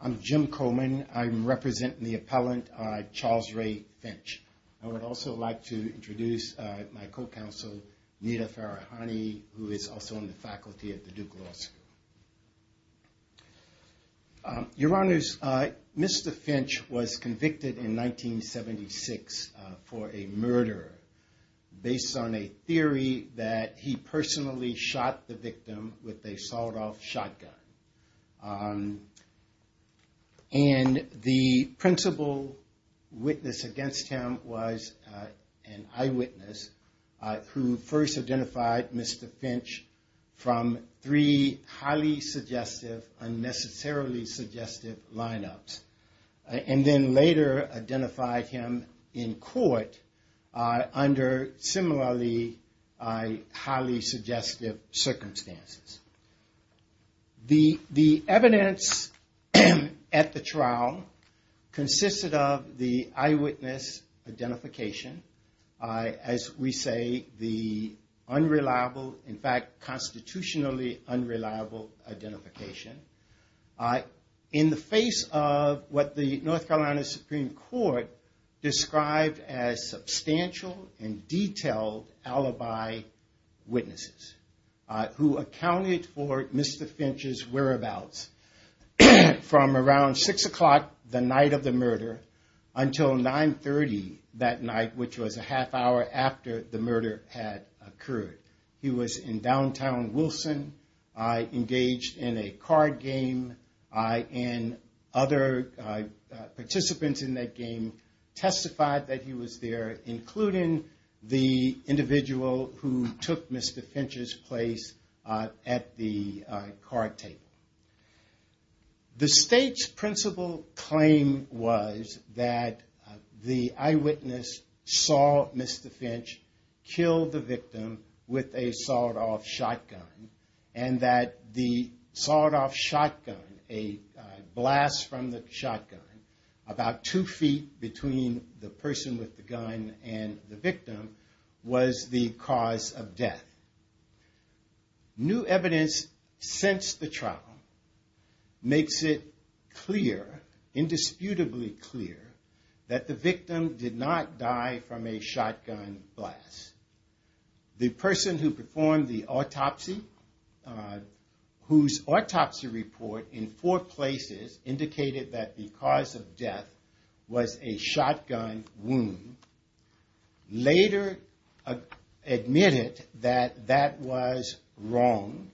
I'm Jim Coleman. I'm representing the appellant, Charles Ray Finch. I would also like to introduce my co-counsel, Nita Farahani, who is also on the faculty at the Duke Law School. Your Honors, Mr. Finch was convicted in 1976 for a murder based on a theory that he personally shot the victim with a sawed-off shotgun. And the principal witness against him was an eyewitness who first identified Mr. Finch from three highly suggestive, unnecessarily suggestive lineups. And then later identified him in court under similarly highly suggestive circumstances. The evidence at the trial consisted of the eyewitness identification. As we say, the unreliable, in fact, constitutionally unreliable identification. In the face of what the North Carolina Supreme Court described as substantial and detailed alibi witnesses. Who accounted for Mr. Finch's whereabouts from around 6 o'clock the night of the murder until 9.30 that night, which was a half hour after the murder had occurred. He was in downtown Wilson, engaged in a card game, and other participants in that game testified that he was there, including the individual who took Mr. Finch's place at the card table. The state's principal claim was that the eyewitness saw Mr. Finch kill the victim with a sawed-off shotgun. And that the sawed-off shotgun, a blast from the shotgun, about two feet between the person with the gun and the victim, was the cause of death. New evidence since the trial makes it clear, indisputably clear, that the victim did not die from a shotgun blast. The person who performed the autopsy, whose autopsy report in four places indicated that the cause of death was a shotgun wound, later admitted that that was wrong.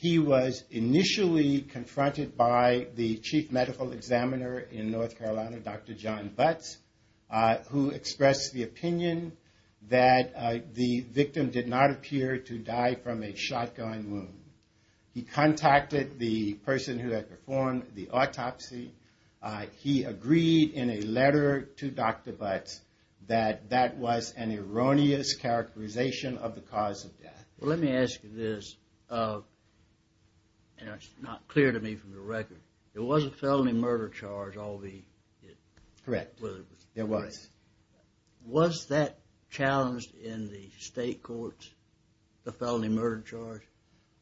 He was initially confronted by the chief medical examiner in North Carolina, Dr. John Butts, who expressed the opinion that the victim did not appear to die from a shotgun wound. He contacted the person who had performed the autopsy. He agreed in a letter to Dr. Butts that that was an erroneous characterization of the cause of death. Well, let me ask you this, and it's not clear to me from the record. There was a felony murder charge. Correct. There was. Was that challenged in the state courts, the felony murder charge?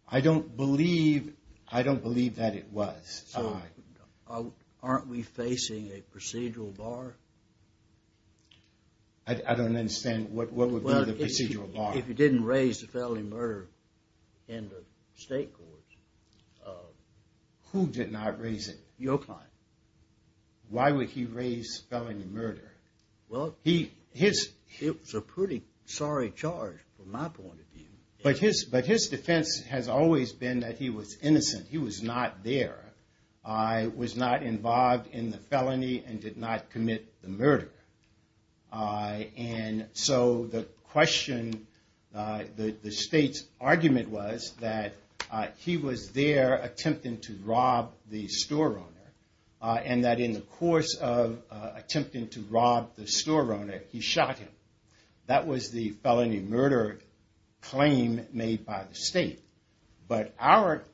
I don't believe that it was. So aren't we facing a procedural bar? I don't understand what would be the procedural bar. If you didn't raise the felony murder in the state courts. Who did not raise it? Your client. Why would he raise felony murder? Well, it was a pretty sorry charge from my point of view. But his defense has always been that he was innocent. He was not there, was not involved in the felony, and did not commit the murder. And so the question, the state's argument was that he was there attempting to rob the store owner, and that in the course of attempting to rob the store owner, he shot him. That was the felony murder claim made by the state. But our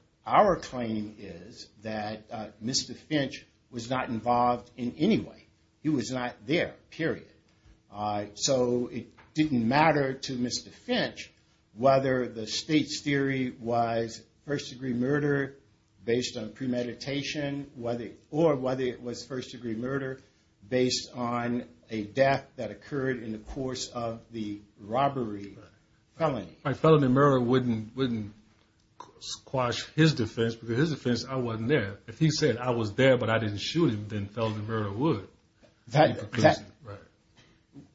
claim is that Mr. Finch was not involved in any way. He was not there, period. So it didn't matter to Mr. Finch whether the state's theory was first degree murder based on premeditation, or whether it was first degree murder based on a death that occurred in the course of the robbery felony. A felony murder wouldn't squash his defense, because his defense, I wasn't there. If he said I was there, but I didn't shoot him, then felony murder would.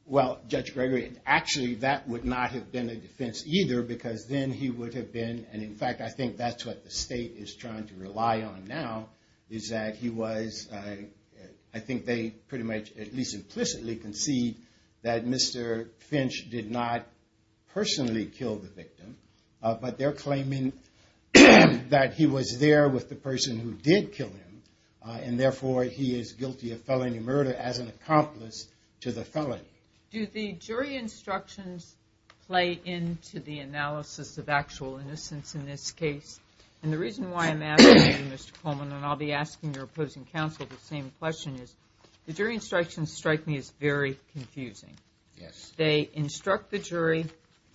Well, Judge Gregory, actually that would not have been a defense either, because then he would have been, and in fact I think that's what the state is trying to rely on now, is that he was, I think they pretty much at least implicitly concede that Mr. Finch did not personally kill the victim. But they're claiming that he was there with the person who did kill him, and therefore he is guilty of felony murder as an accomplice to the felony. Do the jury instructions play into the analysis of actual innocence in this case? And the reason why I'm asking you, Mr. Coleman, and I'll be asking your opposing counsel the same question, is the jury instructions strike me as very confusing. Yes. They instruct the jury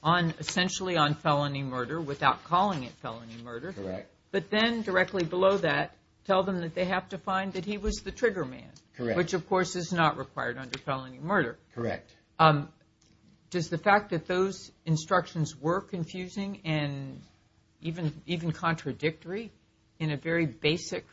essentially on felony murder without calling it felony murder. Correct. But then directly below that, tell them that they have to find that he was the trigger man. Correct. Which of course is not required under felony murder. Correct. Does the fact that those instructions were confusing and even contradictory in a very basic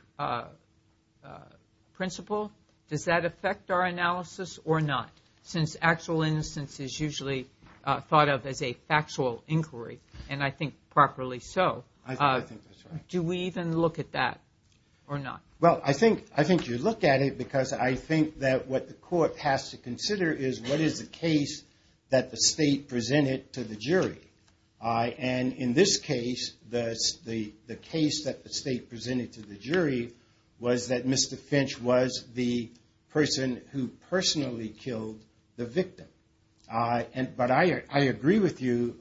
principle, does that affect our analysis or not? Since actual innocence is usually thought of as a factual inquiry, and I think properly so. I think that's right. Do we even look at that or not? Well, I think you look at it because I think that what the court has to consider is what is the case that the state presented to the jury. And in this case, the case that the state presented to the jury was that Mr. Finch was the person who personally killed the victim. But I agree with you,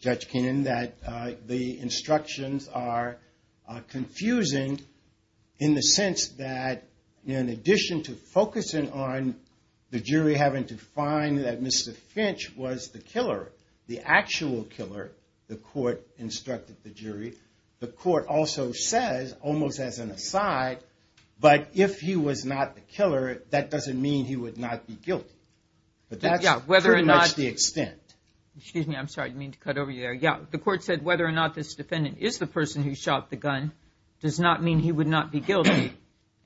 Judge Kinnan, that the instructions are confusing in the sense that in addition to focusing on the jury having to find that Mr. Finch was the killer, the actual killer, the court instructed the jury, the court also says, almost as an aside, but if he was not the killer, that doesn't mean he would not be guilty. But that's pretty much the extent. Excuse me, I'm sorry, I didn't mean to cut over you there. Yeah, the court said whether or not this defendant is the person who shot the gun does not mean he would not be guilty.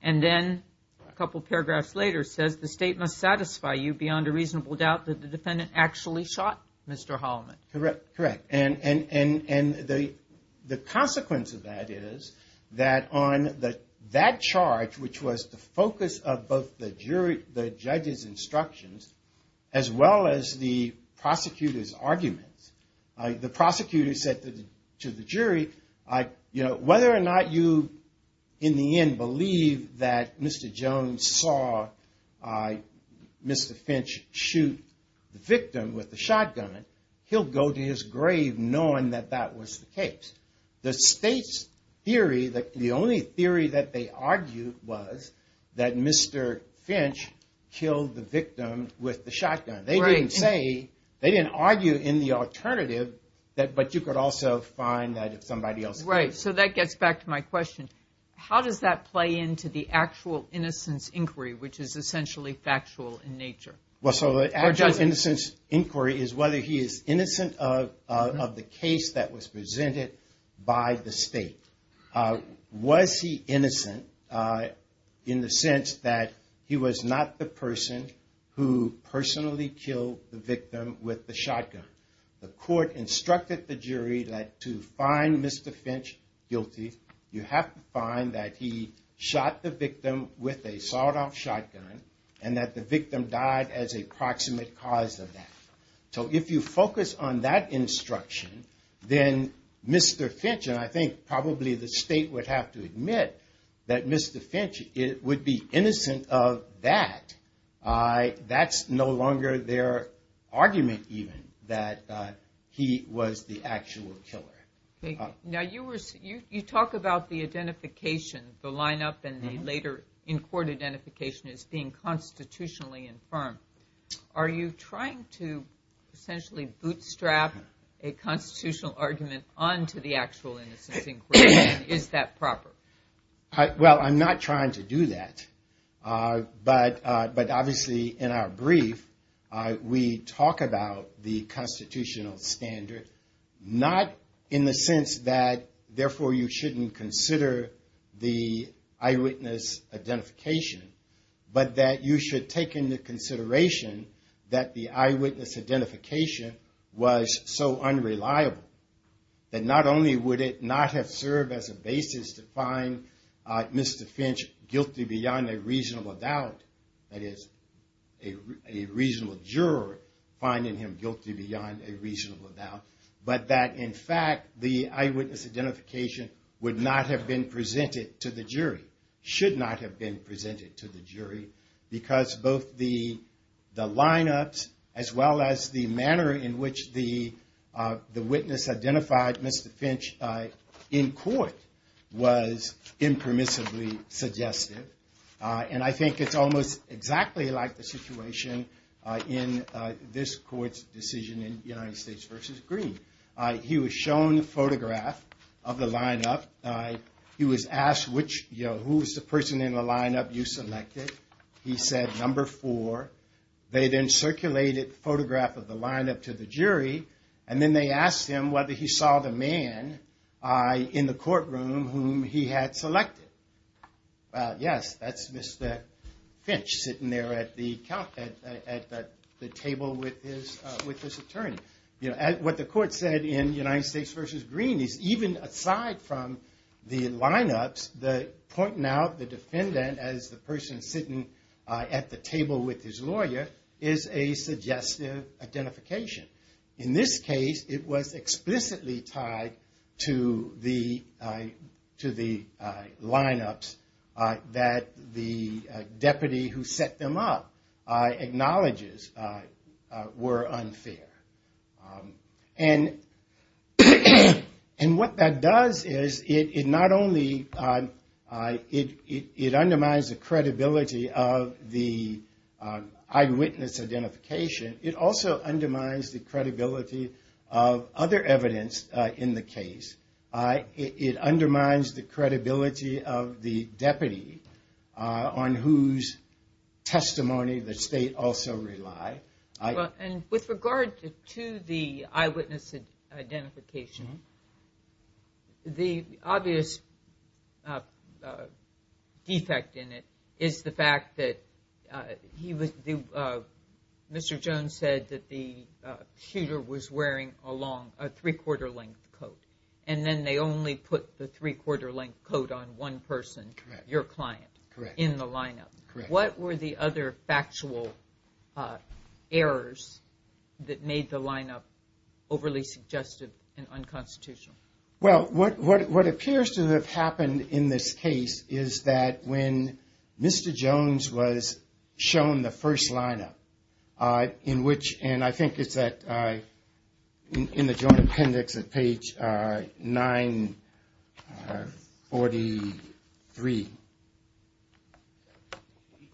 And then a couple paragraphs later says the state must satisfy you beyond a reasonable doubt that the defendant actually shot Mr. Holliman. Correct. And the consequence of that is that on that charge, which was the focus of both the jury, the judge's instructions, as well as the prosecutor's arguments, the prosecutor said to the jury, whether or not you in the end believe that Mr. Jones saw Mr. Finch shoot the victim with the shotgun, he'll go to his grave knowing that that was the case. The state's theory, the only theory that they argued was that Mr. Finch killed the victim with the shotgun. They didn't say, they didn't argue in the alternative, but you could also find that if somebody else did. Right, so that gets back to my question. How does that play into the actual innocence inquiry, which is essentially factual in nature? Well, so the actual innocence inquiry is whether he is innocent of the case that was presented by the state. Was he innocent in the sense that he was not the person who personally killed the victim with the shotgun? The court instructed the jury that to find Mr. Finch guilty, you have to find that he shot the victim with a sawed-off shotgun and that the victim died as a proximate cause of that. So if you focus on that instruction, then Mr. Finch, and I think probably the state would have to admit that Mr. Finch would be innocent of that, that's no longer their argument even that he was the actual killer. Now you talk about the identification, the lineup and the later in-court identification as being constitutionally infirmed. Are you trying to essentially bootstrap a constitutional argument onto the actual innocence inquiry? Is that proper? Well, I'm not trying to do that, but obviously in our brief, we talk about the constitutional standard, not in the sense that therefore you shouldn't consider the eyewitness identification, but that you should take into consideration that the eyewitness identification was so unreliable that not only would it not have served as a basis to find Mr. Finch guilty beyond a reasonable doubt, that is a reasonable juror finding him guilty beyond a reasonable doubt, but that in fact the eyewitness identification would not have been presented to the jury, should not have been presented to the jury, because both the lineups as well as the manner in which the witness identified Mr. Finch in court was impermissibly suggested, and I think it's almost exactly like the situation in this court's decision in United States v. Green. He was shown a photograph of the lineup. He was asked who was the person in the lineup you selected. He said number four. They then circulated the photograph of the lineup to the jury, and then they asked him whether he saw the man in the courtroom whom he had selected. Yes, that's Mr. Finch sitting there at the table with his attorney. What the court said in United States v. Green is even aside from the lineups, pointing out the defendant as the person sitting at the table with his lawyer is a suggestive identification. In this case, it was explicitly tied to the lineups that the deputy who set them up acknowledges were unfair. And what that does is it not only undermines the credibility of the eyewitness identification, it also undermines the credibility of other evidence in the case. It undermines the credibility of the deputy on whose testimony the state also relied. With regard to the eyewitness identification, the obvious defect in it is the fact that Mr. Jones said that the shooter was wearing a three-quarter length coat, and then they only put the three-quarter length coat on one person, your client, in the lineup. What were the other factual errors that made the lineup overly suggestive and unconstitutional? Well, what appears to have happened in this case is that when Mr. Jones was shown the first lineup, in which, and I think it's at, in the Joint Appendix at page 943,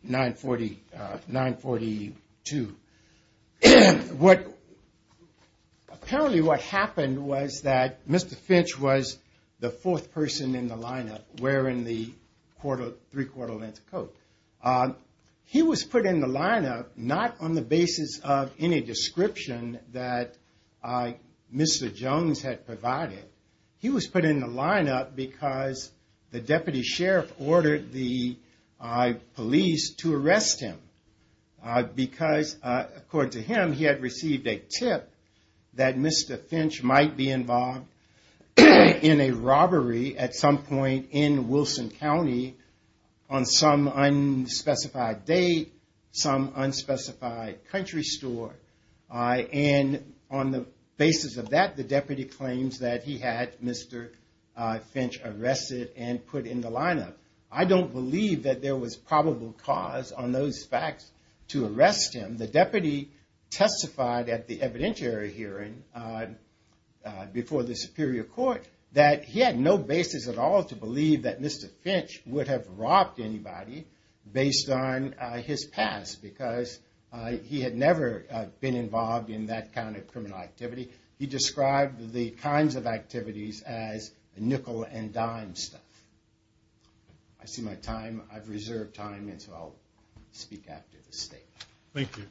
942. What, apparently what happened was that Mr. Finch was the fourth person in the lineup wearing the three-quarter length coat. He was put in the lineup not on the basis of any description that Mr. Jones had provided. He was put in the lineup because the deputy sheriff ordered the police to arrest him. Because, according to him, he had received a tip that Mr. Finch might be involved in a robbery at some point in Wilson County on some unspecified date, some unspecified country store. And on the basis of that, the deputy claims that he had Mr. Finch arrested and put in the lineup. I don't believe that there was probable cause on those facts to arrest him. The deputy testified at the evidentiary hearing before the superior court that he had no basis at all to believe that Mr. Finch would have robbed anybody based on his past. Because he had never been involved in that kind of criminal activity. He described the kinds of activities as nickel and dime stuff. I see my time, I've reserved time, and so I'll speak after the statement. Thank you.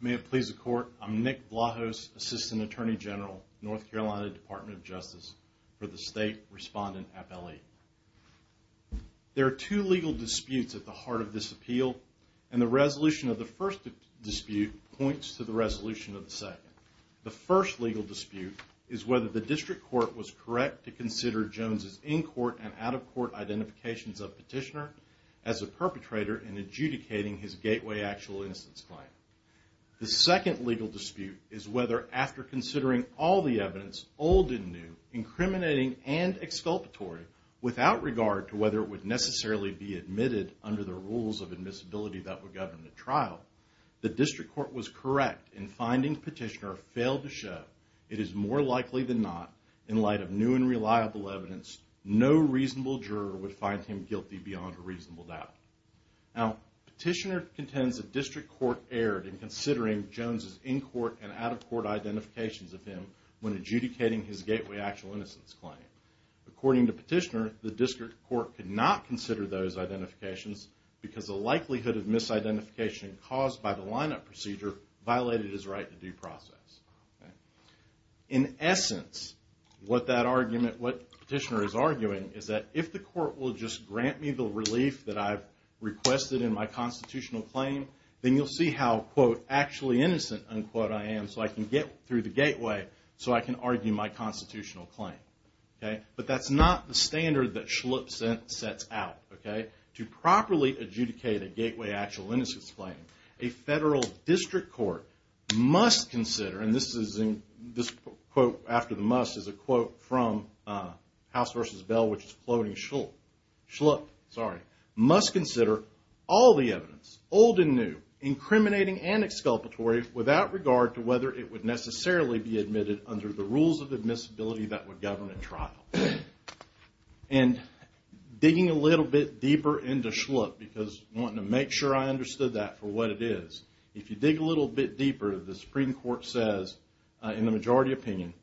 May it please the court, I'm Nick Vlahos, Assistant Attorney General, North Carolina Department of Justice for the State Respondent Appellee. There are two legal disputes at the heart of this appeal, and the resolution of the first dispute points to the resolution of the second. The first legal dispute is whether the district court was correct to consider Jones' in-court and out-of-court identifications of Petitioner as a perpetrator in adjudicating his Gateway Actual Innocence claim. The second legal dispute is whether, after considering all the evidence, old and new, incriminating and exculpatory, without regard to whether it would necessarily be admitted under the rules of admissibility that would govern the trial, the district court was correct in finding Petitioner failed to show, it is more likely than not, in light of new and reliable evidence, no reasonable juror would find him guilty beyond a reasonable doubt. Now, Petitioner contends the district court erred in considering Jones' in-court and out-of-court identifications of him when adjudicating his Gateway Actual Innocence claim. According to Petitioner, the district court could not consider those identifications because the likelihood of misidentification caused by the lineup procedure violated his right to due process. In essence, what Petitioner is arguing is that if the court will just grant me the relief that I've requested in my constitutional claim, then you'll see how, quote, actually innocent, unquote, I am so I can get through the gateway so I can argue my constitutional claim. But that's not the standard that Schlupp sets out. To properly adjudicate a Gateway Actual Innocence claim, a federal district court must consider, and this quote after the must is a quote from House v. Bell, which is floating Schlupp, must consider all the evidence, old and new, incriminating and exculpatory, without regard to whether it would necessarily be admitted under the rules of admissibility that would govern a trial. And digging a little bit deeper into Schlupp, because I want to make sure I understood that for what it is, if you dig a little bit deeper, the Supreme Court says, in the majority opinion,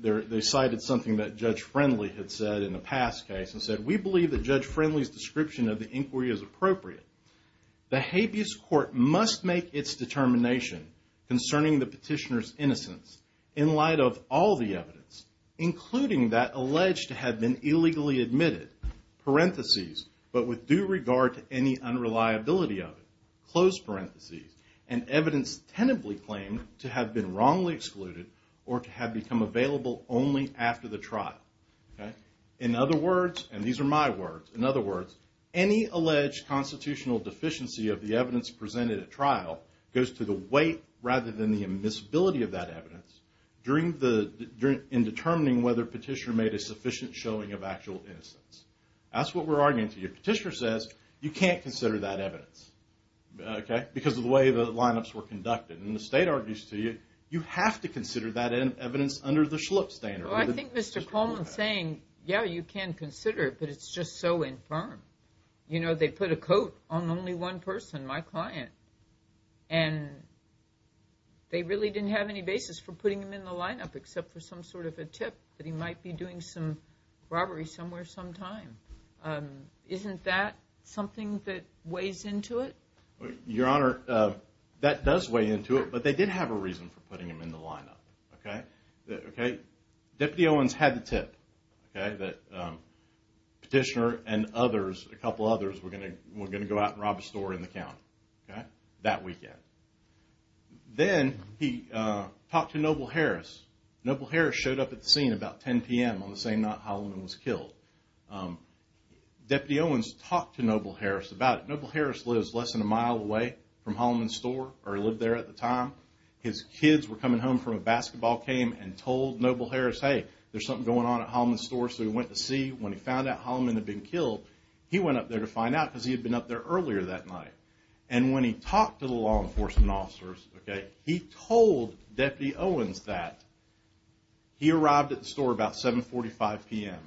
they cited something that Judge Friendly had said in a past case, and said, we believe that Judge Friendly's description of the inquiry is appropriate. The habeas court must make its determination concerning the petitioner's innocence in light of all the evidence, including that alleged to have been illegally admitted, parentheses, but with due regard to any unreliability of it, and evidence tenably claimed to have been wrongly excluded or to have become available only after the trial. In other words, and these are my words, in other words, any alleged constitutional deficiency of the evidence presented at trial goes to the weight rather than the admissibility of that evidence in determining whether petitioner made a sufficient showing of actual innocence. That's what we're arguing to you. Petitioner says, you can't consider that evidence, okay, because of the way the lineups were conducted. And the state argues to you, you have to consider that evidence under the Schlupp standard. Well, I think Mr. Coleman's saying, yeah, you can consider it, but it's just so infirm. You know, they put a coat on only one person, my client, and they really didn't have any basis for putting him in the lineup except for some sort of a tip that he might be doing some robbery somewhere sometime. Isn't that something that weighs into it? Your Honor, that does weigh into it, but they did have a reason for putting him in the lineup, okay? Deputy Owens had the tip that petitioner and others, a couple others, were going to go out and rob a store in the county that weekend. Then he talked to Noble Harris. Noble Harris showed up at the scene about 10 p.m. on the same night Holloman was killed. Deputy Owens talked to Noble Harris about it. Noble Harris lives less than a mile away from Holloman's store, or he lived there at the time. His kids were coming home from a basketball game and told Noble Harris, hey, there's something going on at Holloman's store, so he went to see. When he found out Holloman had been killed, he went up there to find out because he had been up there earlier that night. And when he talked to the law enforcement officers, he told Deputy Owens that he arrived at the store about 7.45 p.m.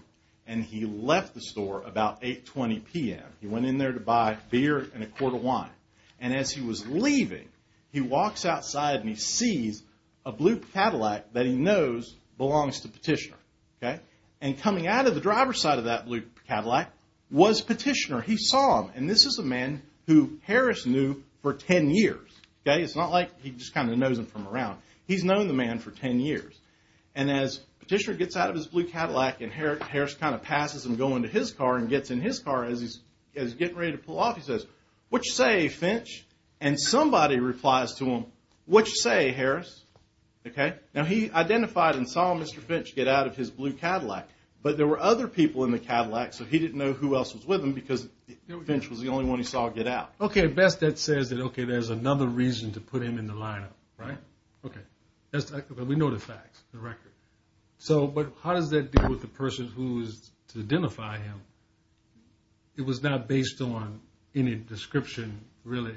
and he left the store about 8.20 p.m. He went in there to buy beer and a quart of wine. And as he was leaving, he walks outside and he sees a blue Cadillac that he knows belongs to petitioner. And coming out of the driver's side of that blue Cadillac was petitioner. He saw him. And this is a man who Harris knew for 10 years. It's not like he just kind of knows him from around. He's known the man for 10 years. And as petitioner gets out of his blue Cadillac and Harris kind of passes him going to his car and gets in his car as he's getting ready to pull off, he says, what you say, Finch? And somebody replies to him, what you say, Harris? Now he identified and saw Mr. Finch get out of his blue Cadillac, but there were other people in the Cadillac. So he didn't know who else was with him because Finch was the only one he saw get out. Okay. Best that says that, okay, there's another reason to put him in the lineup, right? Okay. We know the facts, the record. So, but how does that deal with the person who is to identify him? It was not based on any description really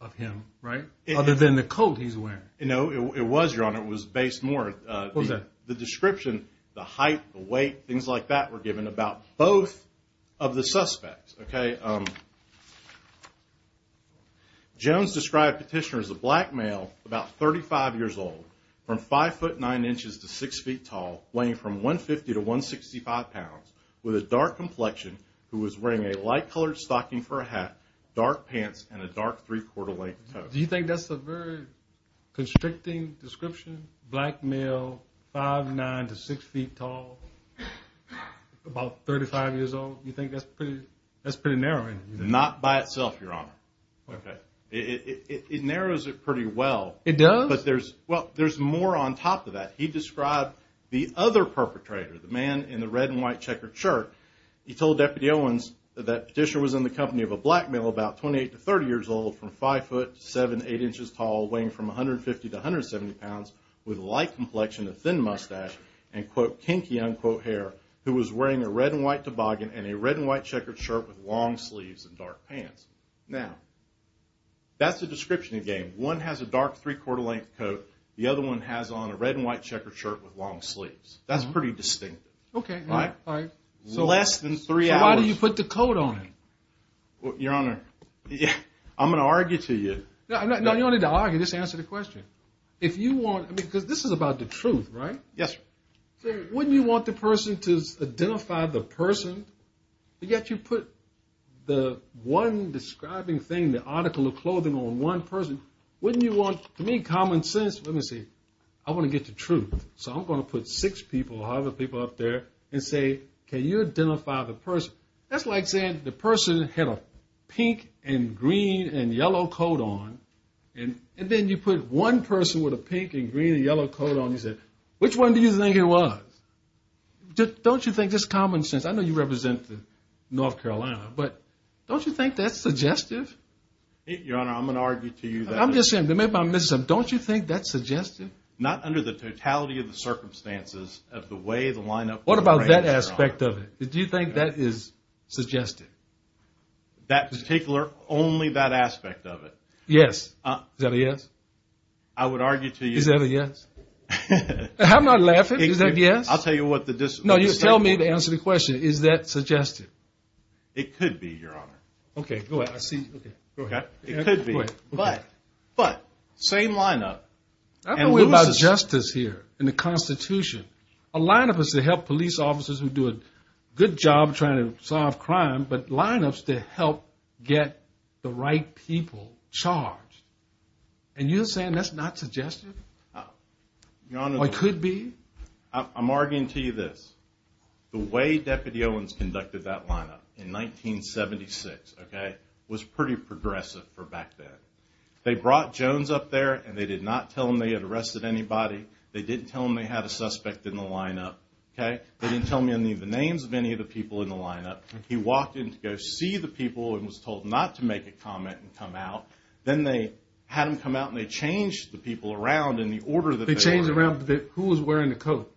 of him, right? Other than the coat he's wearing. No, it was your honor. It was based more, uh, the description, the height, the weight, things like that were given about both of the suspects. Okay. Um, Jones described petitioner as a black male, about 35 years old from five foot nine inches to six feet tall, weighing from one 50 to one 65 pounds with a dark complexion who was wearing a light colored stocking for a hat, dark pants, and a dark three quarter length. Do you think that's a very constricting description? Black male, five, nine to six feet tall, about 35 years old. You think that's pretty, that's pretty narrowing? Not by itself. Your honor. Okay. It narrows it pretty well. It does. But there's, well, there's more on top of that. He described the other perpetrator, the man in the red and white checkered shirt. He told Deputy Owens that petitioner was in the company of a black male, about 28 to 30 years old from five foot seven, eight inches tall, weighing from 150 to 170 pounds with light complexion of thin mustache and quote kinky unquote hair who was wearing a red and white toboggan and a red and white checkered shirt with long sleeves and dark pants. Now, that's the description again. One has a dark three quarter length coat. The other one has on a red and white checkered shirt with long sleeves. That's pretty distinctive. Okay. All right. So why do you put the coat on him? Your honor, I'm going to argue to you. No, you don't need to argue. Just answer the question. If you want, because this is about the truth, right? Yes, sir. Wouldn't you want the person to identify the person? Yet you put the one describing thing, the article of clothing on one person. Wouldn't you want to make common sense? Let me see. I want to get the truth. So I'm going to put six people, other people up there and say, can you identify the person? That's like saying the person had a pink and green and yellow coat on. And then you put one person with a pink and green and yellow coat on. You said, which one do you think it was? Don't you think that's common sense? I know you represent North Carolina, but don't you think that's suggestive? Your honor, I'm going to argue to you. I'm just saying that maybe I'm missing something. Don't you think that's suggestive? Not under the totality of the circumstances of the way the lineup was arranged, your honor. What about that aspect of it? Do you think that is suggestive? That particular, only that aspect of it. Yes. Is that a yes? I would argue to you. Is that a yes? I'm not laughing. Is that a yes? I'll tell you what the discipline is. No, just tell me to answer the question. Is that suggestive? It could be, your honor. Okay, go ahead. I see you. Go ahead. It could be, but same lineup. I'm talking about justice here in the Constitution. A lineup is to help police officers who do a good job trying to solve crime, but lineups to help get the right people charged. And you're saying that's not suggestive? Or it could be? I'm arguing to you this. The way Deputy Owens conducted that lineup in 1976, okay, was pretty progressive for back then. They brought Jones up there and they did not tell him they had arrested anybody. They didn't tell him they had a suspect in the lineup, okay. They didn't tell him any of the names of any of the people in the lineup. He walked in to go see the people and was told not to make a comment and come out. Then they had him come out and they changed the people around in the order that they wanted. Who was wearing the coat?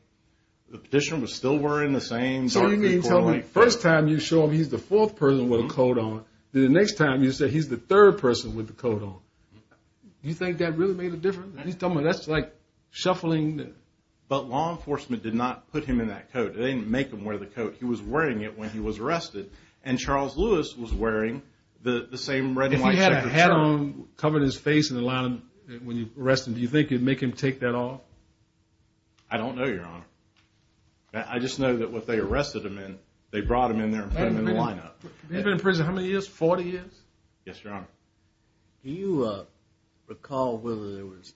The petitioner was still wearing the same. So you're telling me the first time you show him he's the fourth person with a coat on, the next time you say he's the third person with the coat on. You think that really made a difference? He's telling me that's like shuffling. But law enforcement did not put him in that coat. They didn't make him wear the coat. He was wearing it when he was arrested. And Charles Lewis was wearing the same red and white checker shirt. If he had a hat on covering his face in the lineup when you arrested him, do you think you'd make him take that off? I don't know, Your Honor. I just know that what they arrested him in, they brought him in there and put him in the lineup. He's been in prison how many years? 40 years? Yes, Your Honor. Do you recall whether there was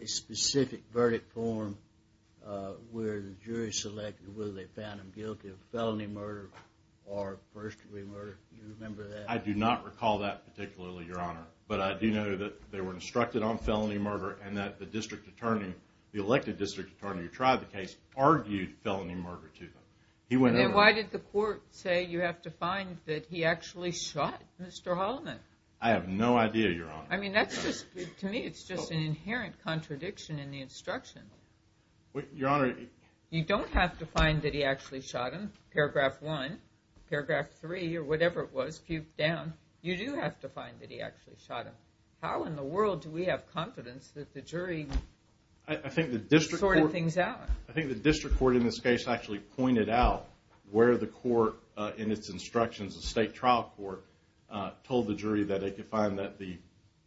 a specific verdict form where the jury selected whether they found him guilty of felony murder or first degree murder? Do you remember that? I do not recall that particularly, Your Honor. But I do know that they were instructed on felony murder and that the district attorney, the elected district attorney who tried the case, argued felony murder to them. Then why did the court say you have to find that he actually shot Mr. Holliman? I have no idea, Your Honor. I mean, to me, it's just an inherent contradiction in the instruction. You don't have to find that he actually shot him, paragraph one. Paragraph three, or whatever it was, puked down. You do have to find that he actually shot him. How in the world do we have confidence that the jury sorted things out? I think the district court in this case actually pointed out where the court in its instructions, the state trial court, told the jury that they could find that the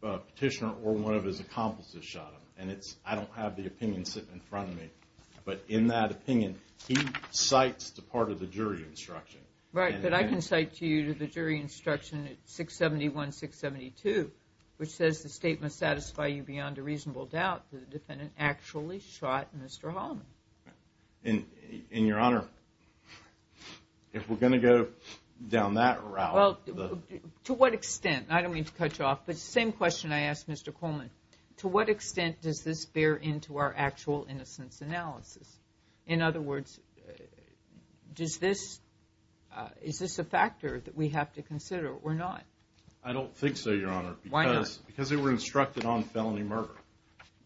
petitioner or one of his accomplices shot him. And I don't have the opinion sitting in front of me. But in that opinion, he cites the part of the jury instruction. Right, but I can cite to you the jury instruction at 671-672, which says the state must satisfy you beyond a reasonable doubt that the defendant actually shot Mr. Holliman. And, Your Honor, if we're going to go down that route. Well, to what extent? I don't mean to cut you off, but it's the same question I asked Mr. Holliman. To what extent does this bear into our actual innocence analysis? In other words, is this a factor that we have to consider or not? I don't think so, Your Honor. Why not? Because they were instructed on felony murder.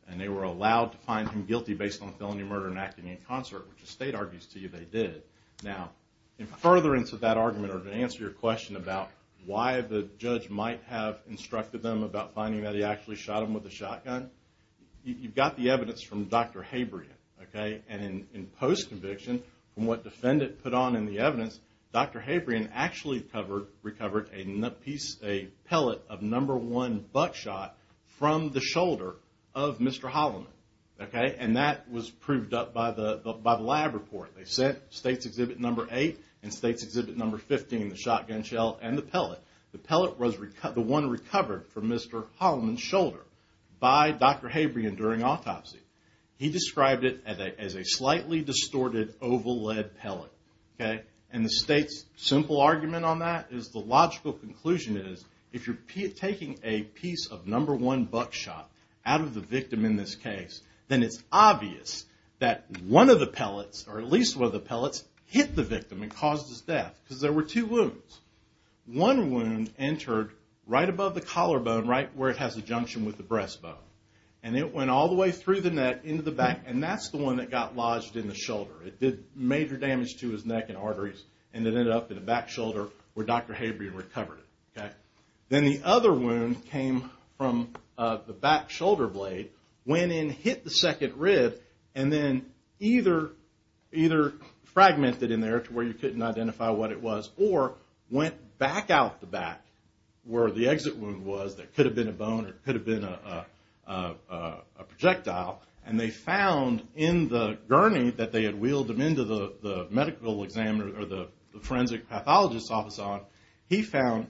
And they were allowed to find him guilty based on felony murder and acting in concert, which the state argues to you they did. Now, further into that argument or to answer your question about why the judge might have instructed them about finding that he actually shot him with a shotgun, you've got the evidence from Dr. Habrian. And in post-conviction, from what the defendant put on in the evidence, Dr. Habrian actually recovered a pellet of number one buckshot from the shoulder of Mr. Holliman. And that was proved up by the lab report. They sent State's Exhibit Number 8 and State's Exhibit Number 15, the shotgun shell and the pellet. The pellet was the one recovered from Mr. Holliman's shoulder by Dr. Habrian during autopsy. He described it as a slightly distorted oval-lead pellet. And the State's simple argument on that is the logical conclusion is if you're taking a piece of number one buckshot out of the victim in this case, then it's obvious that one of the pellets, or at least one of the pellets, hit the victim and caused his death. Because there were two wounds. One wound entered right above the collarbone, right where it has a junction with the breastbone. And it went all the way through the neck into the back. And that's the one that got lodged in the shoulder. It did major damage to his neck and arteries. And it ended up in the back shoulder where Dr. Habrian recovered it. Then the other wound came from the back shoulder blade, went in, hit the second rib, and then either fragmented in there to where you couldn't identify what it was, or went back out the back where the exit wound was that could have been a bone or could have been a projectile. And they found in the gurney that they had wheeled him into the medical examiner or the forensic pathologist's office on, he found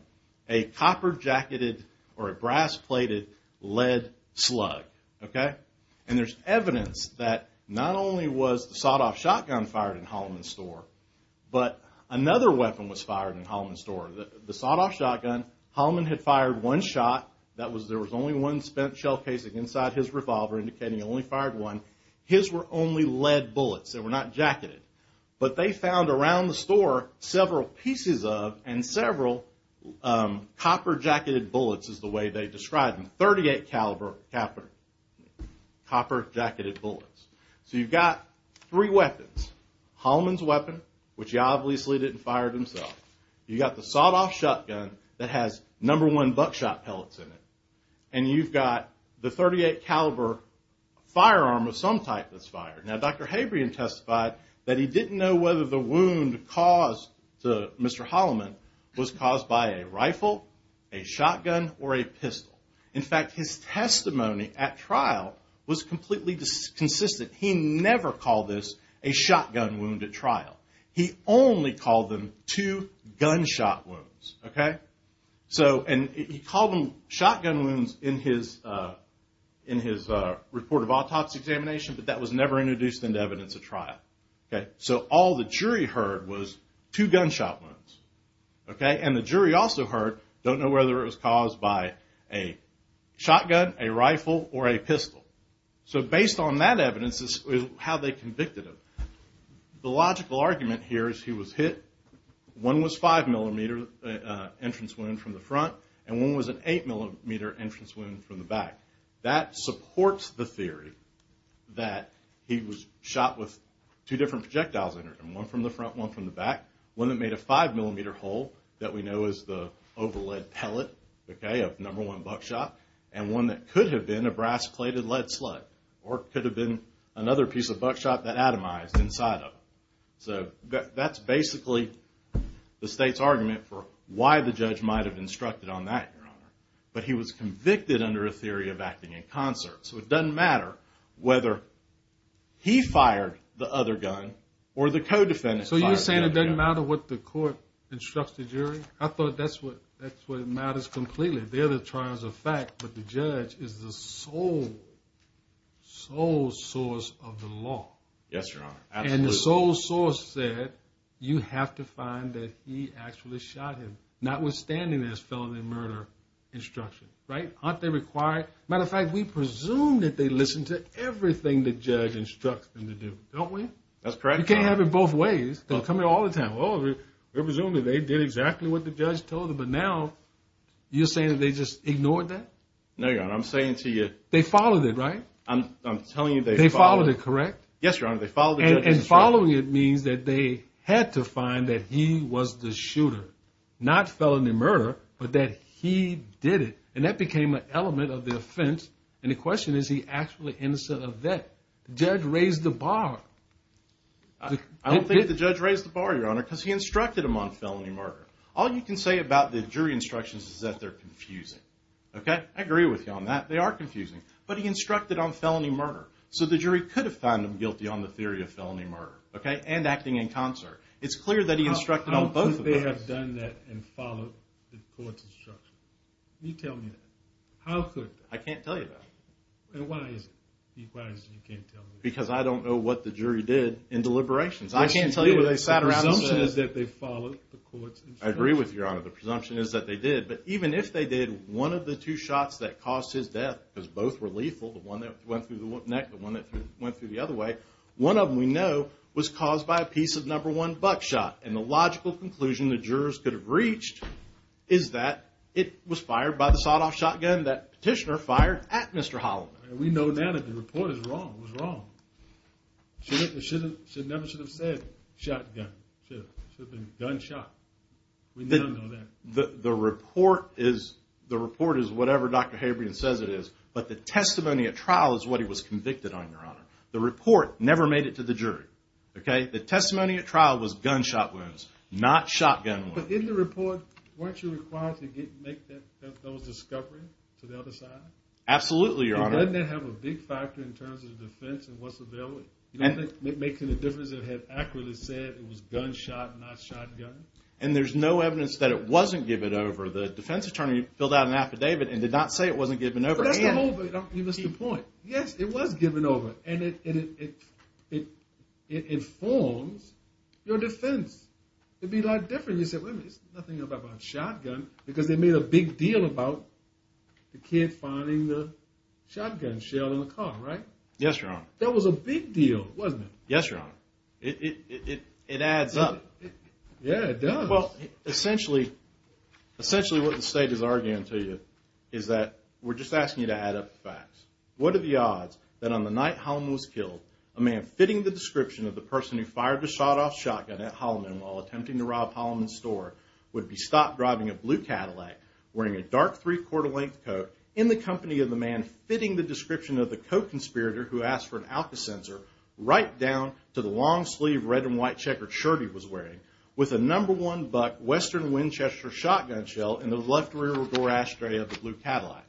a copper-jacketed or a brass-plated lead slug. And there's evidence that not only was the sawed-off shotgun fired in Holloman's store, but another weapon was fired in Holloman's store. The sawed-off shotgun, Holloman had fired one shot. There was only one spent shell casing inside his revolver, indicating he only fired one. His were only lead bullets. They were not jacketed. But they found around the store several pieces of and several copper-jacketed bullets is the way they described them. 38 caliber copper-jacketed bullets. So you've got three weapons. Holloman's weapon, which he obviously didn't fire himself. You've got the sawed-off shotgun that has number one buckshot pellets in it. And you've got the 38 caliber firearm of some type that's fired. Now, Dr. Habrian testified that he didn't know whether the wound caused to Mr. Holloman was caused by a rifle, a shotgun, or a pistol. In fact, his testimony at trial was completely inconsistent. He never called this a shotgun wound at trial. He only called them two gunshot wounds. He called them shotgun wounds in his report of autopsy examination, but that was never introduced into evidence at trial. So all the jury heard was two gunshot wounds. And the jury also heard, don't know whether it was caused by a shotgun, a rifle, or a pistol. So based on that evidence is how they convicted him. The logical argument here is he was hit. One was five millimeter entrance wound from the front, and one was an eight millimeter entrance wound from the back. That supports the theory that he was shot with two different projectiles in him. One from the front, one from the back. One that made a five millimeter hole that we know is the overlead pellet, okay, of number one buckshot. And one that could have been a brass plated lead slug, or it could have been another piece of buckshot that atomized inside of him. So that's basically the state's argument for why the judge might have instructed on that, Your Honor. But he was convicted under a theory of acting in concert. So it doesn't matter whether he fired the other gun or the co-defendant fired the other gun. It doesn't matter what the court instructs the jury. I thought that's what matters completely. They're the trials of fact, but the judge is the sole, sole source of the law. Yes, Your Honor. And the sole source said you have to find that he actually shot him, notwithstanding his felony murder instruction, right? Aren't they required? Matter of fact, we presume that they listen to everything the judge instructs them to do, don't we? That's correct, Your Honor. You can't have it both ways. They'll come here all the time. We presume that they did exactly what the judge told them, but now you're saying that they just ignored that? No, Your Honor. I'm saying to you. They followed it, right? I'm telling you they followed it. They followed it, correct? Yes, Your Honor. They followed the judge's instruction. And following it means that they had to find that he was the shooter, not felony murder, but that he did it. And that became an element of the offense. And the question is, is he actually innocent of that? The judge raised the bar. I don't think the judge raised the bar, Your Honor, because he instructed him on felony murder. All you can say about the jury instructions is that they're confusing, okay? I agree with you on that. They are confusing. But he instructed on felony murder, so the jury could have found him guilty on the theory of felony murder, okay, and acting in concert. It's clear that he instructed on both of those. I have done that and followed the court's instructions. You tell me that. How could they? I can't tell you that. And why is it? Because I don't know what the jury did in deliberations. I can't tell you where they sat around and said it. The presumption is that they followed the court's instructions. I agree with you, Your Honor. The presumption is that they did. But even if they did, one of the two shots that caused his death, because both were lethal, the one that went through the neck, the one that went through the other way, one of them we know was caused by a piece of number one buckshot. And the logical conclusion the jurors could have reached is that it was fired by the sawed-off shotgun that Petitioner fired at Mr. Holliman. We know now that the report is wrong. It was wrong. It never should have said shotgun. It should have been gunshot. We now know that. The report is whatever Dr. Habrian says it is, but the testimony at trial is what he was convicted on, Your Honor. The report never made it to the jury. The testimony at trial was gunshot wounds, not shotgun wounds. But in the report, weren't you required to make that discovery to the other side? Absolutely, Your Honor. Doesn't that have a big factor in terms of defense and what's available? You don't think it makes any difference if it had accurately said it was gunshot, not shotgun? And there's no evidence that it wasn't given over. The defense attorney filled out an affidavit and did not say it wasn't given over. But that's the whole point. Yes, it was given over, and it informs your defense. It'd be a lot different if you said, wait a minute, it's nothing about shotgun, because they made a big deal about the kid finding the shotgun shell in the car, right? Yes, Your Honor. That was a big deal, wasn't it? Yes, Your Honor. It adds up. Yeah, it does. Essentially, what the state is arguing to you is that we're just asking you to add up the facts. What are the odds that on the night Holloman was killed, a man fitting the description of the person who fired the shot off shotgun at Holloman while attempting to rob Holloman's store would be stopped driving a blue Cadillac, wearing a dark three-quarter length coat, in the company of the man fitting the description of the coat conspirator who asked for an Alka sensor, right down to the long sleeve red and white checkered shirt he was wearing, with a number one buck Western Winchester shotgun shell in the left rear door ashtray of the blue Cadillac?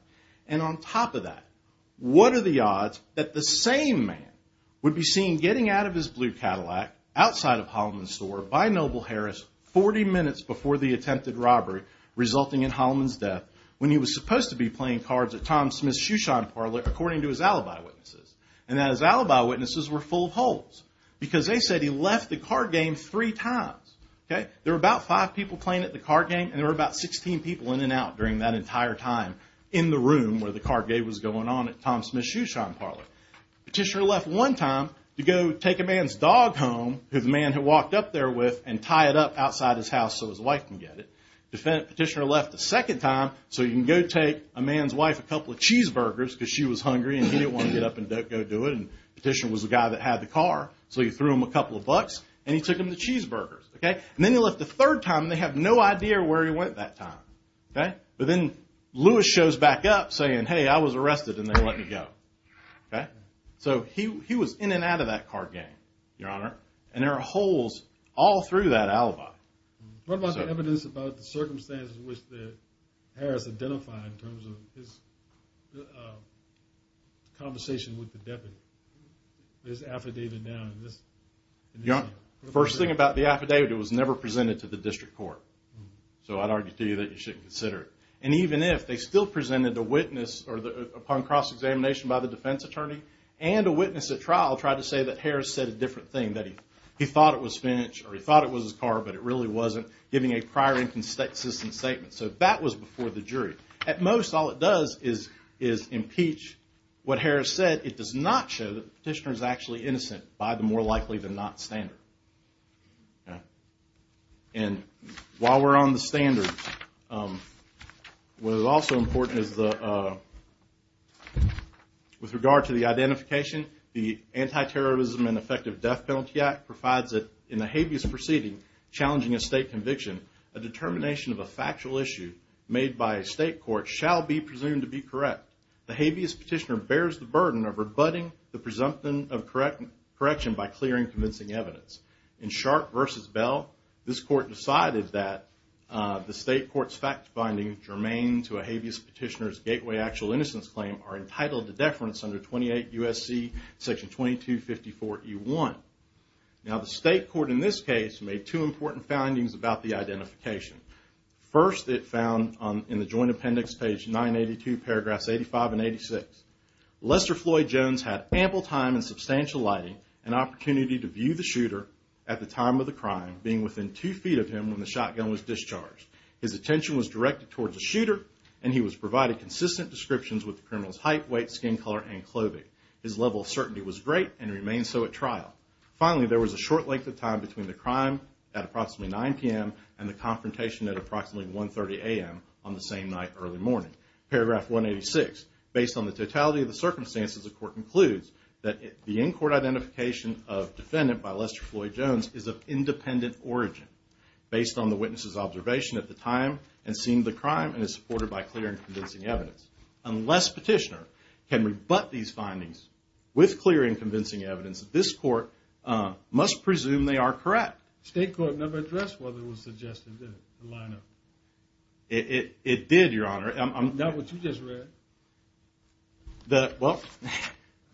And on top of that, what are the odds that the same man would be seen getting out of his blue Cadillac, outside of Holloman's store, by Noble Harris, 40 minutes before the attempted robbery, resulting in Holloman's death, when he was supposed to be playing cards at Tom Smith's shoe shine parlor, according to his alibi witnesses? And that his alibi witnesses were full of holes, because they said he left the card game three times, okay? There were about five people playing at the card game, and there were about 16 people in and out during that entire time in the room where the card game was going on at Tom Smith's shoe shine parlor. Petitioner left one time to go take a man's dog home, who the man had walked up there with, and tie it up outside his house so his wife can get it. Petitioner left a second time so he can go take a man's wife a couple of cheeseburgers, because she was hungry and he didn't want to get up and dope her. And Petitioner was the guy that had the car, so he threw him a couple of bucks, and he took him the cheeseburgers, okay? And then he left a third time, and they have no idea where he went that time, okay? But then Lewis shows back up saying, hey, I was arrested, and they let me go, okay? So he was in and out of that card game, Your Honor, and there are holes all through that alibi. What about the evidence about the circumstances in which Harris identified in terms of his conversation with the deputy? There's an affidavit now. Your Honor, the first thing about the affidavit, it was never presented to the district court. So I'd argue to you that you should consider it. And even if, they still presented a witness upon cross-examination by the defense attorney, and a witness at trial tried to say that Harris said a different thing, that he thought it was Finch, or he thought it was his car, but it really wasn't, giving a prior inconsistent statement. So that was before the jury. At most, all it does is impeach what Harris said. It does not show that the petitioner is actually innocent by the more likely than not standard, okay? And while we're on the standards, what is also important is the, with regard to the identification, the Anti-terrorism and Effective Death Penalty Act provides a, in the habeas proceeding, challenging a state conviction, a determination of a factual issue. Made by a state court, shall be presumed to be correct. The habeas petitioner bears the burden of rebutting the presumption of correction by clearing convincing evidence. In Sharp v. Bell, this court decided that the state court's fact-finding germane to a habeas petitioner's gateway actual innocence claim are entitled to deference under 28 U.S.C. section 2254E1. Now the state court in this case made two important findings about the identification. First, it found in the joint appendix, page 982, paragraphs 85 and 86, Lester Floyd Jones had ample time and substantial lighting and opportunity to view the shooter at the time of the crime, being within two feet of him when the shotgun was discharged. His attention was directed towards the shooter and he was provided consistent descriptions with the criminal's height, weight, skin color, and clothing. His level of certainty was great and remained so at trial. Finally, there was a short length of time between the crime at approximately 9 p.m. and the confrontation at approximately 1.30 a.m. on the same night early morning. Paragraph 186, based on the totality of the circumstances, the court concludes that the in-court identification of defendant by Lester Floyd Jones is of independent origin based on the witness's observation at the time and seeing the crime and is supported by clear and convincing evidence. Unless petitioner can rebut these findings with clear and convincing evidence, this court must presume they are correct. State court never addressed whether it was suggested, did it, the lineup? It did, your honor. Not what you just read. Well,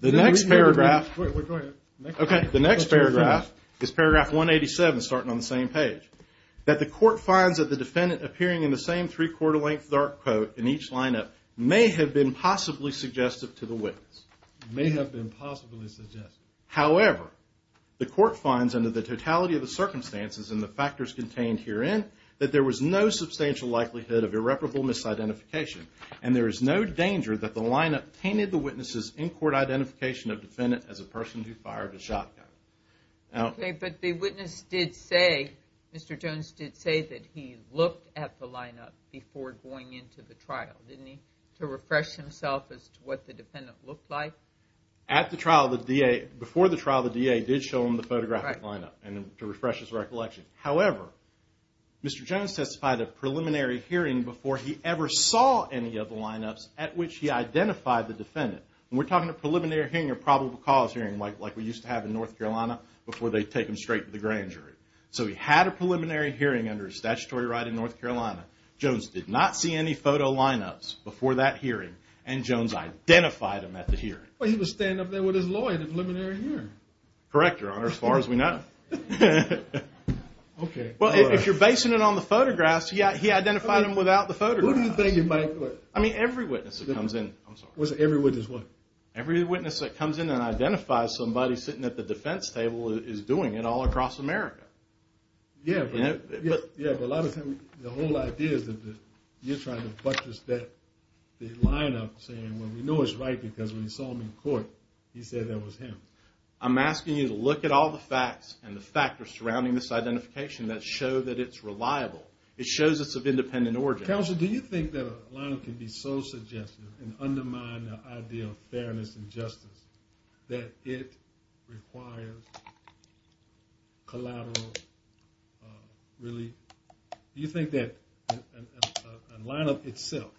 the next paragraph is paragraph 187 starting on the same page. That the court finds that the defendant appearing in the same three-quarter length dark coat in each lineup may have been possibly suggestive to the witness. May have been possibly suggestive. However, the court finds under the totality of the circumstances and the factors contained herein that there was no substantial likelihood of irreparable misidentification and there is no danger that the lineup tainted the witness's in-court identification of defendant as a person who fired a shotgun. Okay, but the witness did say, Mr. Jones did say that he looked at the lineup before going into the trial, didn't he? To refresh himself as to what the defendant looked like? At the trial, the DA, before the trial, the DA did show him the photographic lineup to refresh his recollection. However, Mr. Jones testified a preliminary hearing before he ever saw any of the lineups at which he identified the defendant. We're talking a preliminary hearing or probable cause hearing like we used to have in North Carolina before they take him straight to the grand jury. So he had a preliminary hearing under statutory right in North Carolina. Jones did not see any photo lineups before that hearing and Jones identified him at the hearing. Well, he was standing up there with his lawyer in a preliminary hearing. Correct, Your Honor, as far as we know. Okay. Well, if you're basing it on the photographs, he identified him without the photographs. Who do you think it might be? I mean, every witness that comes in. I'm sorry. Every witness what? Every witness that comes in and identifies somebody sitting at the defense table is doing it all across America. Yeah, but a lot of times the whole idea is that you're trying to buttress the lineup saying, well, we know it's right because when we saw him in court, he said that was him. I'm asking you to look at all the facts and the factors surrounding this identification that show that it's reliable. It shows it's of independent origin. Counsel, do you think that a lineup can be so suggestive and undermine the idea of fairness and justice that it requires collateral really? Do you think that a lineup itself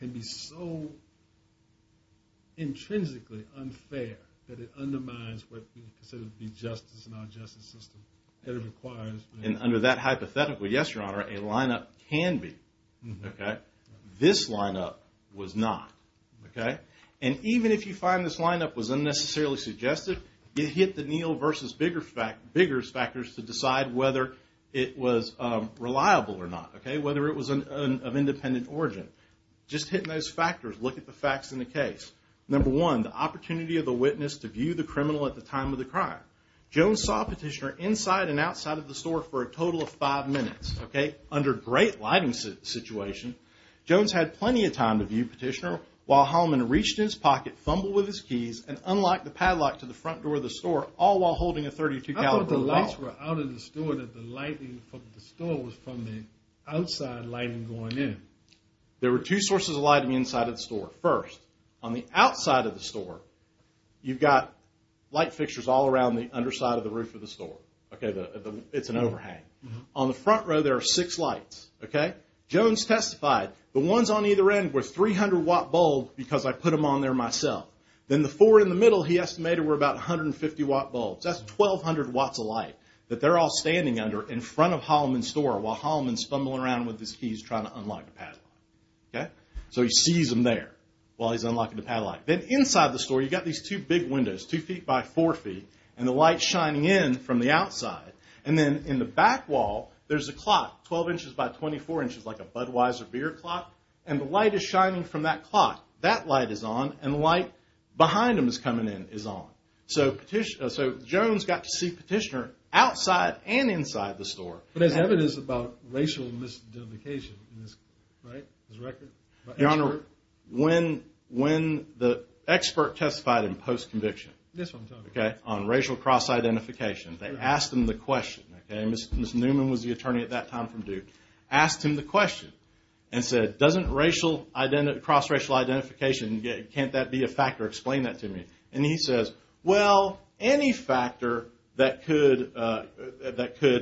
can be so intrinsically unfair that it undermines what we consider to be justice and our justice system that it requires? And under that hypothetical, yes, Your Honor, a lineup can be. Okay. This lineup was not. Okay. And even if you find this lineup was unnecessarily suggestive, you hit the Neal versus Biggers factors to decide whether it was reliable or not, okay, whether it was of independent origin. Just hit those factors. Look at the facts in the case. Number one, the opportunity of the witness to view the criminal at the time of the crime. Jones saw Petitioner inside and outside of the store for a total of five minutes, okay, under great lighting situation. Jones had plenty of time to view Petitioner while Hallman reached in his pocket, fumbled with his keys, and unlocked the padlock to the front door of the store, all while holding a .32 caliber rifle. I thought the lights were out of the store, that the lighting from the store was from the outside lighting going in. There were two sources of lighting inside of the store. First, on the outside of the store, you've got light fixtures all around the underside of the roof of the store. Okay, it's an overhang. On the front row, there are six lights, okay. Jones testified the ones on either end were 300-watt bulbs because I put them on there myself. Then the four in the middle, he estimated, were about 150-watt bulbs. That's 1,200 watts of light that they're all standing under in front of Hallman's store while Hallman's fumbling around with his keys trying to unlock the padlock, okay. So he sees them there while he's unlocking the padlock. Then inside the store, you've got these two big windows, two feet by four feet, and the lights shining in from the outside. And then in the back wall, there's a clock, 12 inches by 24 inches, like a Budweiser beer clock, and the light is shining from that clock. That light is on, and the light behind him is coming in is on. So Jones got to see Petitioner outside and inside the store. But there's evidence about racial misidentification in this, right, this record? Your Honor, when the expert testified in post-conviction, okay, on racial cross-identification, they asked him the question, okay. Ms. Newman was the attorney at that time from Duke. Asked him the question and said, doesn't cross-racial identification, can't that be a factor? Explain that to me. And he says, well, any factor that could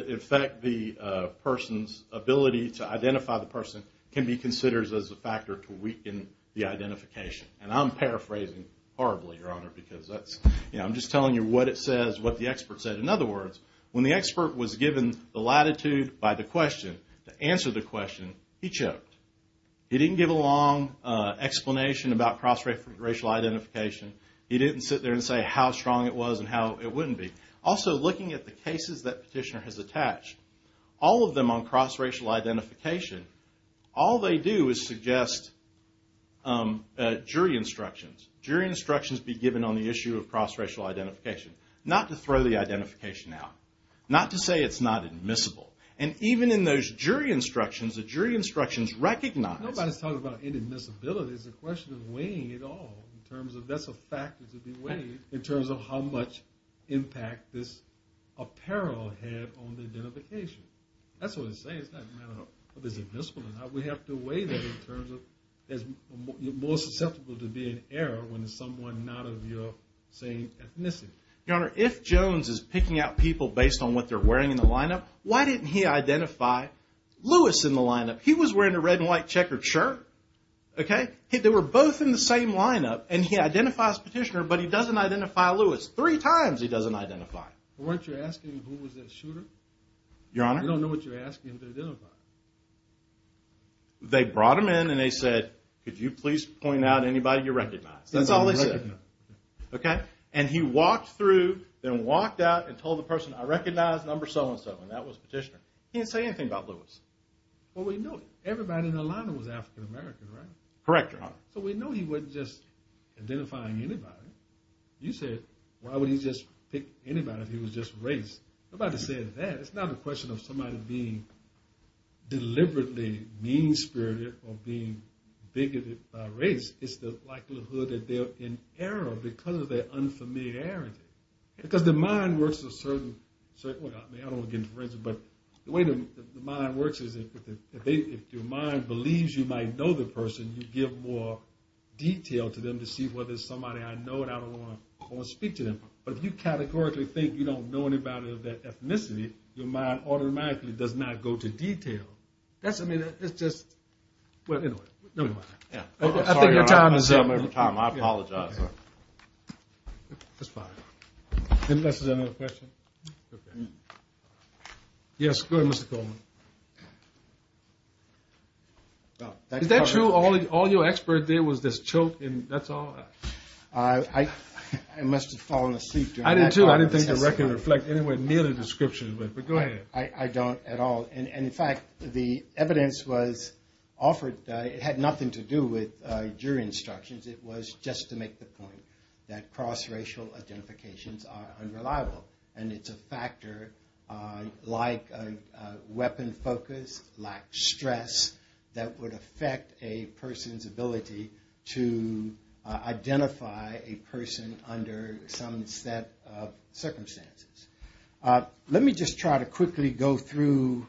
affect the person's ability to identify the person can be considered as a factor to weaken the identification. And I'm paraphrasing horribly, Your Honor, because that's, you know, I'm just telling you what it says, what the expert said. In other words, when the expert was given the latitude by the question, to answer the question, he choked. He didn't give a long explanation about cross-racial identification. He didn't sit there and say how strong it was and how it wouldn't be. Also, looking at the cases that Petitioner has attached, all of them on cross-racial identification, all they do is suggest jury instructions. Jury instructions be given on the issue of cross-racial identification. Not to throw the identification out. Not to say it's not admissible. And even in those jury instructions, the jury instructions recognize. Nobody's talking about inadmissibility. It's a question of weighing it all in terms of that's a factor to be weighed in terms of how much impact this apparel had on the identification. That's what it's saying. It's not a matter of if it's admissible or not. We have to weigh that in terms of you're more susceptible to be in error when it's someone not of your same ethnicity. Your Honor, if Jones is picking out people based on what they're wearing in the lineup, why didn't he identify Lewis in the lineup? He was wearing a red and white checkered shirt. Okay? They were both in the same lineup, and he identifies Petitioner, but he doesn't identify Lewis. Three times he doesn't identify. Weren't you asking who was that shooter? Your Honor? You don't know what you're asking him to identify. They brought him in, and they said, could you please point out anybody you recognize? That's all they said. Okay? And he walked through, then walked out, and told the person, I recognize number so-and-so, and that was Petitioner. He didn't say anything about Lewis. Well, we know everybody in the lineup was African-American, right? Correct, Your Honor. So we know he wasn't just identifying anybody. You said, why would he just pick anybody if he was just race? Nobody said that. It's not a question of somebody being deliberately mean-spirited or being bigoted by race. It's the likelihood that they're in error because of their unfamiliarity. Because the mind works a certain way. I don't want to get into forensic, but the way the mind works is if your mind believes you might know the person, you give more detail to them to see whether it's somebody I know and I don't want to speak to them. But if you categorically think you don't know anybody of that ethnicity, your mind automatically does not go to detail. I think your time is up. I apologize. That's fine. Unless there's another question. Yes, go ahead, Mr. Coleman. Is that true all your expert did was this choke and that's all? I must have fallen asleep. I didn't think the record reflected anywhere near the description. But go ahead. I don't at all. And, in fact, the evidence was offered. It had nothing to do with jury instructions. It was just to make the point that cross-racial identifications are unreliable. And it's a factor like weapon focus, like stress that would affect a person's under some set of circumstances. Let me just try to quickly go through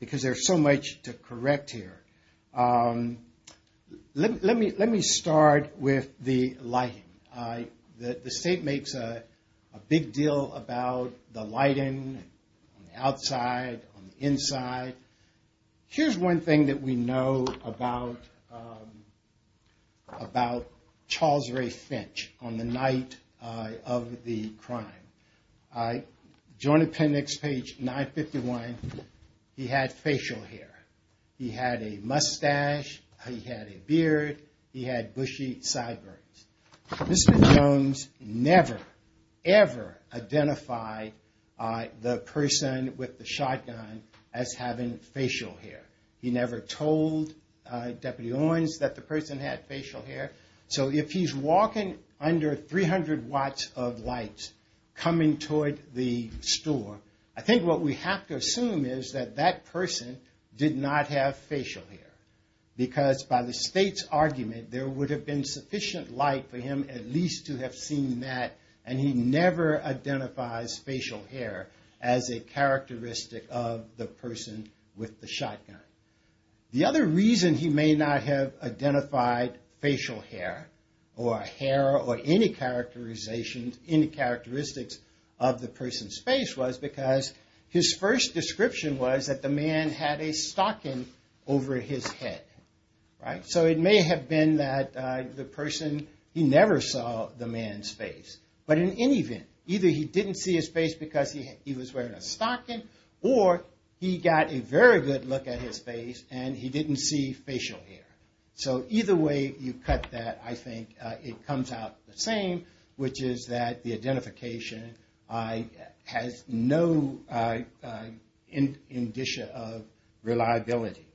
because there's so much to correct here. Let me start with the lighting. The state makes a big deal about the lighting on the outside, on the inside. Here's one thing that we know about Charles Ray Finch on the night of the crime. Joint appendix, page 951, he had facial hair. He had a mustache. He had a beard. He had bushy sideburns. Mr. Jones never, ever identified the person with the shotgun as having facial hair. He never told Deputy Owens that the person had facial hair. So if he's walking under 300 watts of light coming toward the store, I think what we have to assume is that that person did not have facial hair. Because by the state's argument, there would have been sufficient light for him at least to have seen that, and he never identifies facial hair as a characteristic of the person with the shotgun. The other reason he may not have identified facial hair or hair or any characteristics of the person's face was because his first description was that the man had a stocking over his head. So it may have been that the person, he never saw the man's face. But in any event, either he didn't see his face because he was wearing a stocking, or he got a very good look at his face and he didn't see facial hair. So either way you cut that, I think it comes out the same, which is that the identification has no indicia of reliability.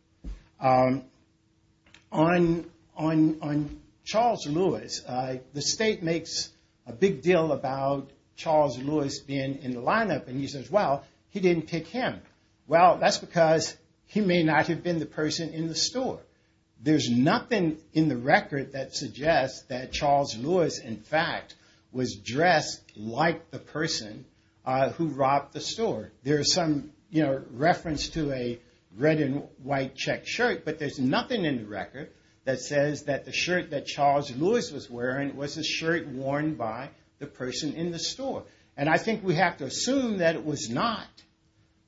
On Charles Lewis, the state makes a big deal about Charles Lewis being in the lineup, and he says, well, he didn't pick him. Well, that's because he may not have been the person in the store. There's nothing in the record that suggests that Charles Lewis, in fact, was dressed like the person who robbed the store. There is some reference to a red and white checked shirt, but there's nothing in the record that says that the shirt that Charles Lewis was wearing was the shirt worn by the person in the store. And I think we have to assume that it was not,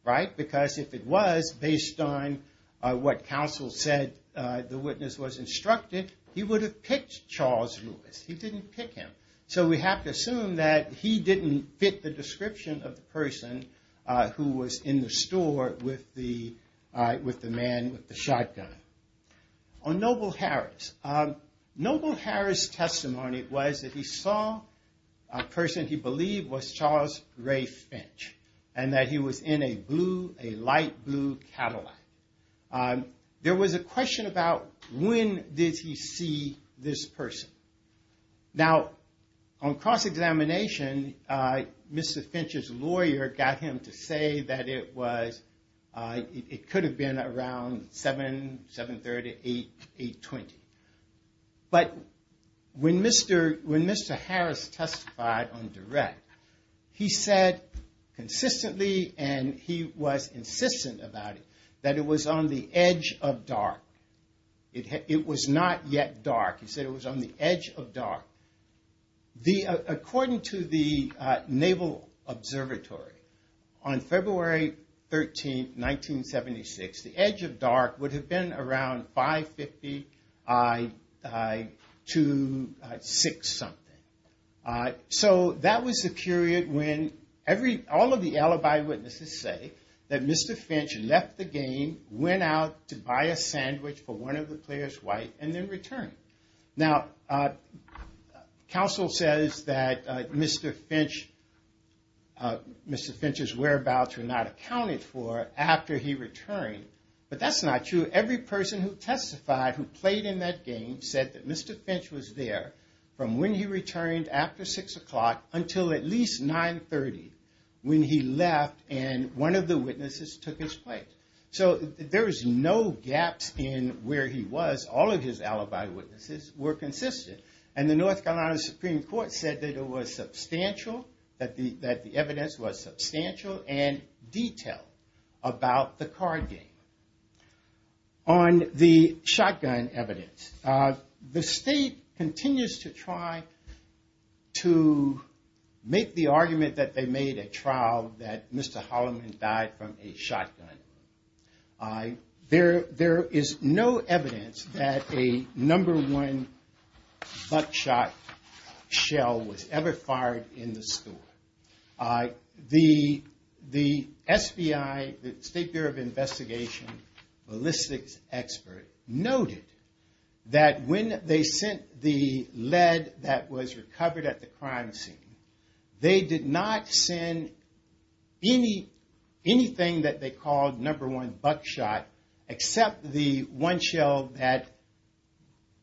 right? Because if it was, based on what counsel said, the witness was instructed, he would have picked Charles Lewis. He didn't pick him. So we have to assume that he didn't fit the description of the person who was in the store with the man with the shotgun. On Noble Harris, Noble Harris' testimony was that he saw a person he believed was Charles Ray Finch, and that he was in a blue, a light blue Cadillac. There was a question about when did he see this person. Now, on cross-examination, Mr. Finch's lawyer got him to say that it was, it could have been around 7, 730, 820. But when Mr. Harris testified on direct, he said consistently, and he was insistent about it, that it was on the edge of dark. It was not yet dark. He said it was on the edge of dark. According to the Naval Observatory, on February 13, 1976, the edge of dark would have been around 550 to 6-something. So that was the period when all of the alibi witnesses say that Mr. Finch left the game, went out to buy a sandwich for one of the players white, and then returned. Now, counsel says that Mr. Finch's whereabouts were not accounted for after he returned. But that's not true. Every person who testified who played in that game said that Mr. Finch was there from when he returned after 6 o'clock until at least 930 when he left and one of the witnesses took his place. So there was no gaps in where he was. All of his alibi witnesses were consistent. And the North Carolina Supreme Court said that it was substantial, that the evidence was substantial and detailed about the card game. On the shotgun evidence, the state continues to try to make the argument that they made at trial that Mr. Holliman died from a shotgun. There is no evidence that a number one buckshot shell was ever fired in the store. The SBI, the State Bureau of Investigation, ballistics expert noted that when they sent the lead that was recovered at the crime scene, they did not send anything that they called number one buckshot except the one shell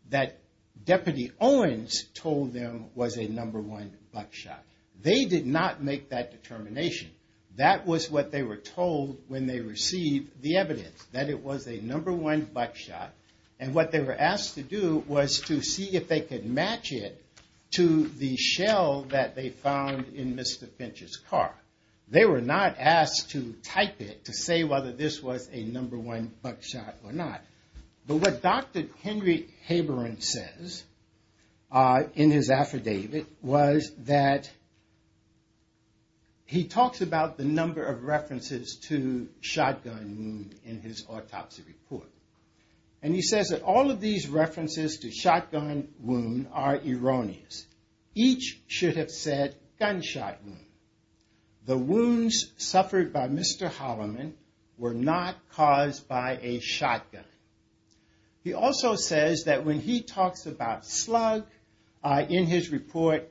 that Deputy Owens told them was a number one buckshot. They did not make that determination. That was what they were told when they received the evidence, that it was a number one buckshot. And what they were asked to do was to see if they could match it to the shell that they found in Mr. Finch's car. They were not asked to type it to say whether this was a number one buckshot or not. But what Dr. Henry Haberin says in his affidavit was that he talks about the number of references to shotgun wound in his autopsy report. And he says that all of these references to shotgun wound are erroneous. Each should have said gunshot wound. The wounds suffered by Mr. Holloman were not caused by a shotgun. He also says that when he talks about slug in his report,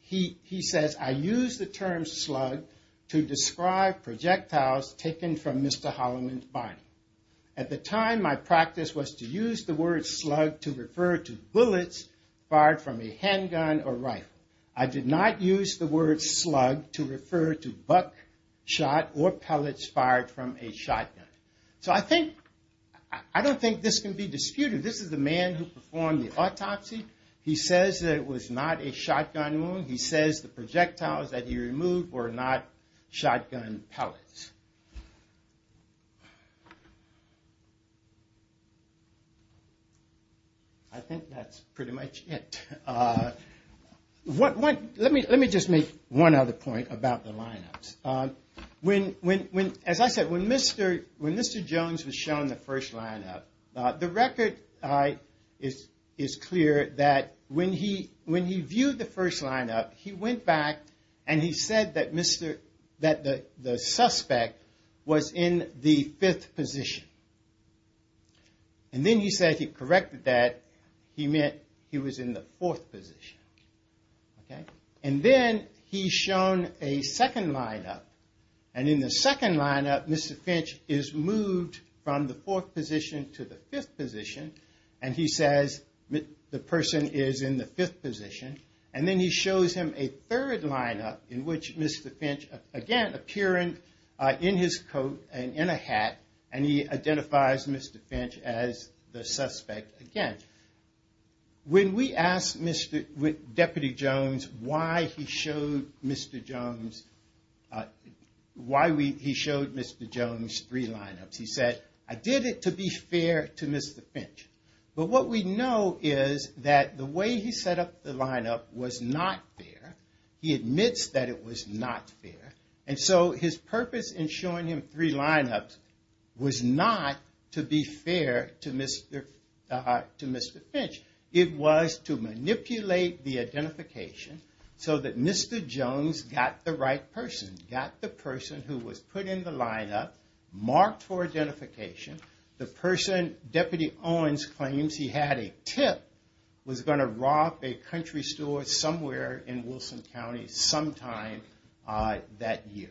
he says, I used the term slug to describe projectiles taken from Mr. Holloman's body. At the time, my practice was to use the word slug to refer to bullets fired from a handgun or rifle. I did not use the word slug to refer to buckshot or pellets fired from a shotgun. So I think, I don't think this can be disputed. This is the man who performed the autopsy. He says that it was not a shotgun wound. He says the projectiles that he removed were not shotgun pellets. I think that's pretty much it. Let me just make one other point about the lineups. As I said, when Mr. Jones was shown the first lineup, the record is clear that when he viewed the first lineup, he went back and he said that the suspect was in the fifth position. And then he said he corrected that. He meant he was in the fourth position. And then he's shown a second lineup. And in the second lineup, Mr. Finch is moved from the fourth position to the fifth position. And he says the person is in the fifth position. And then he shows him a third lineup in which Mr. Finch, again, appearing in his coat and in a hat. And he identifies Mr. Finch as the suspect again. When we asked Deputy Jones why he showed Mr. Jones three lineups, he said, I did it to be fair to Mr. Finch. But what we know is that the way he set up the lineup was not fair. He admits that it was not fair. And so his purpose in showing him three lineups was not to be fair to Mr. Finch. It was to manipulate the identification so that Mr. Jones got the right person, got the person who was put in the lineup, marked for identification. The person Deputy Owens claims he had a tip was going to rob a country store somewhere in Wilson County sometime that year.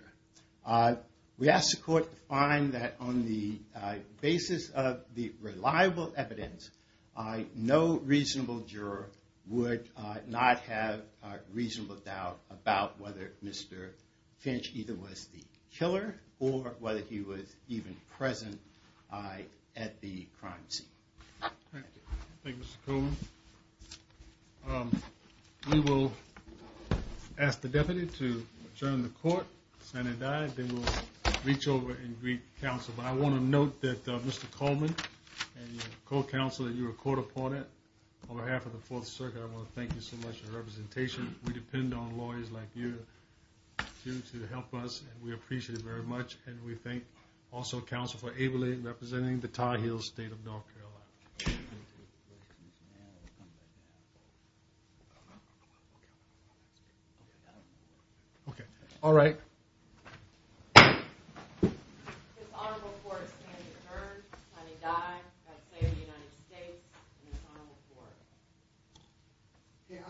We asked the court to find that on the basis of the reliable evidence, no reasonable juror would not have a reasonable doubt about whether Mr. Finch either was the killer or whether he was even present at the crime scene. Thank you. Thank you, Mr. Coleman. Um, we will ask the deputy to turn the court Senate died. They will reach over and greet council. But I want to note that, uh, Mr. Coleman and co-counsel that you were caught up on it on behalf of the fourth circuit. I want to thank you so much for representation. We depend on lawyers like you to help us. And we appreciate it very much. And we thank also council for ably representing the tie heels state of okay. Okay. All right. Yeah.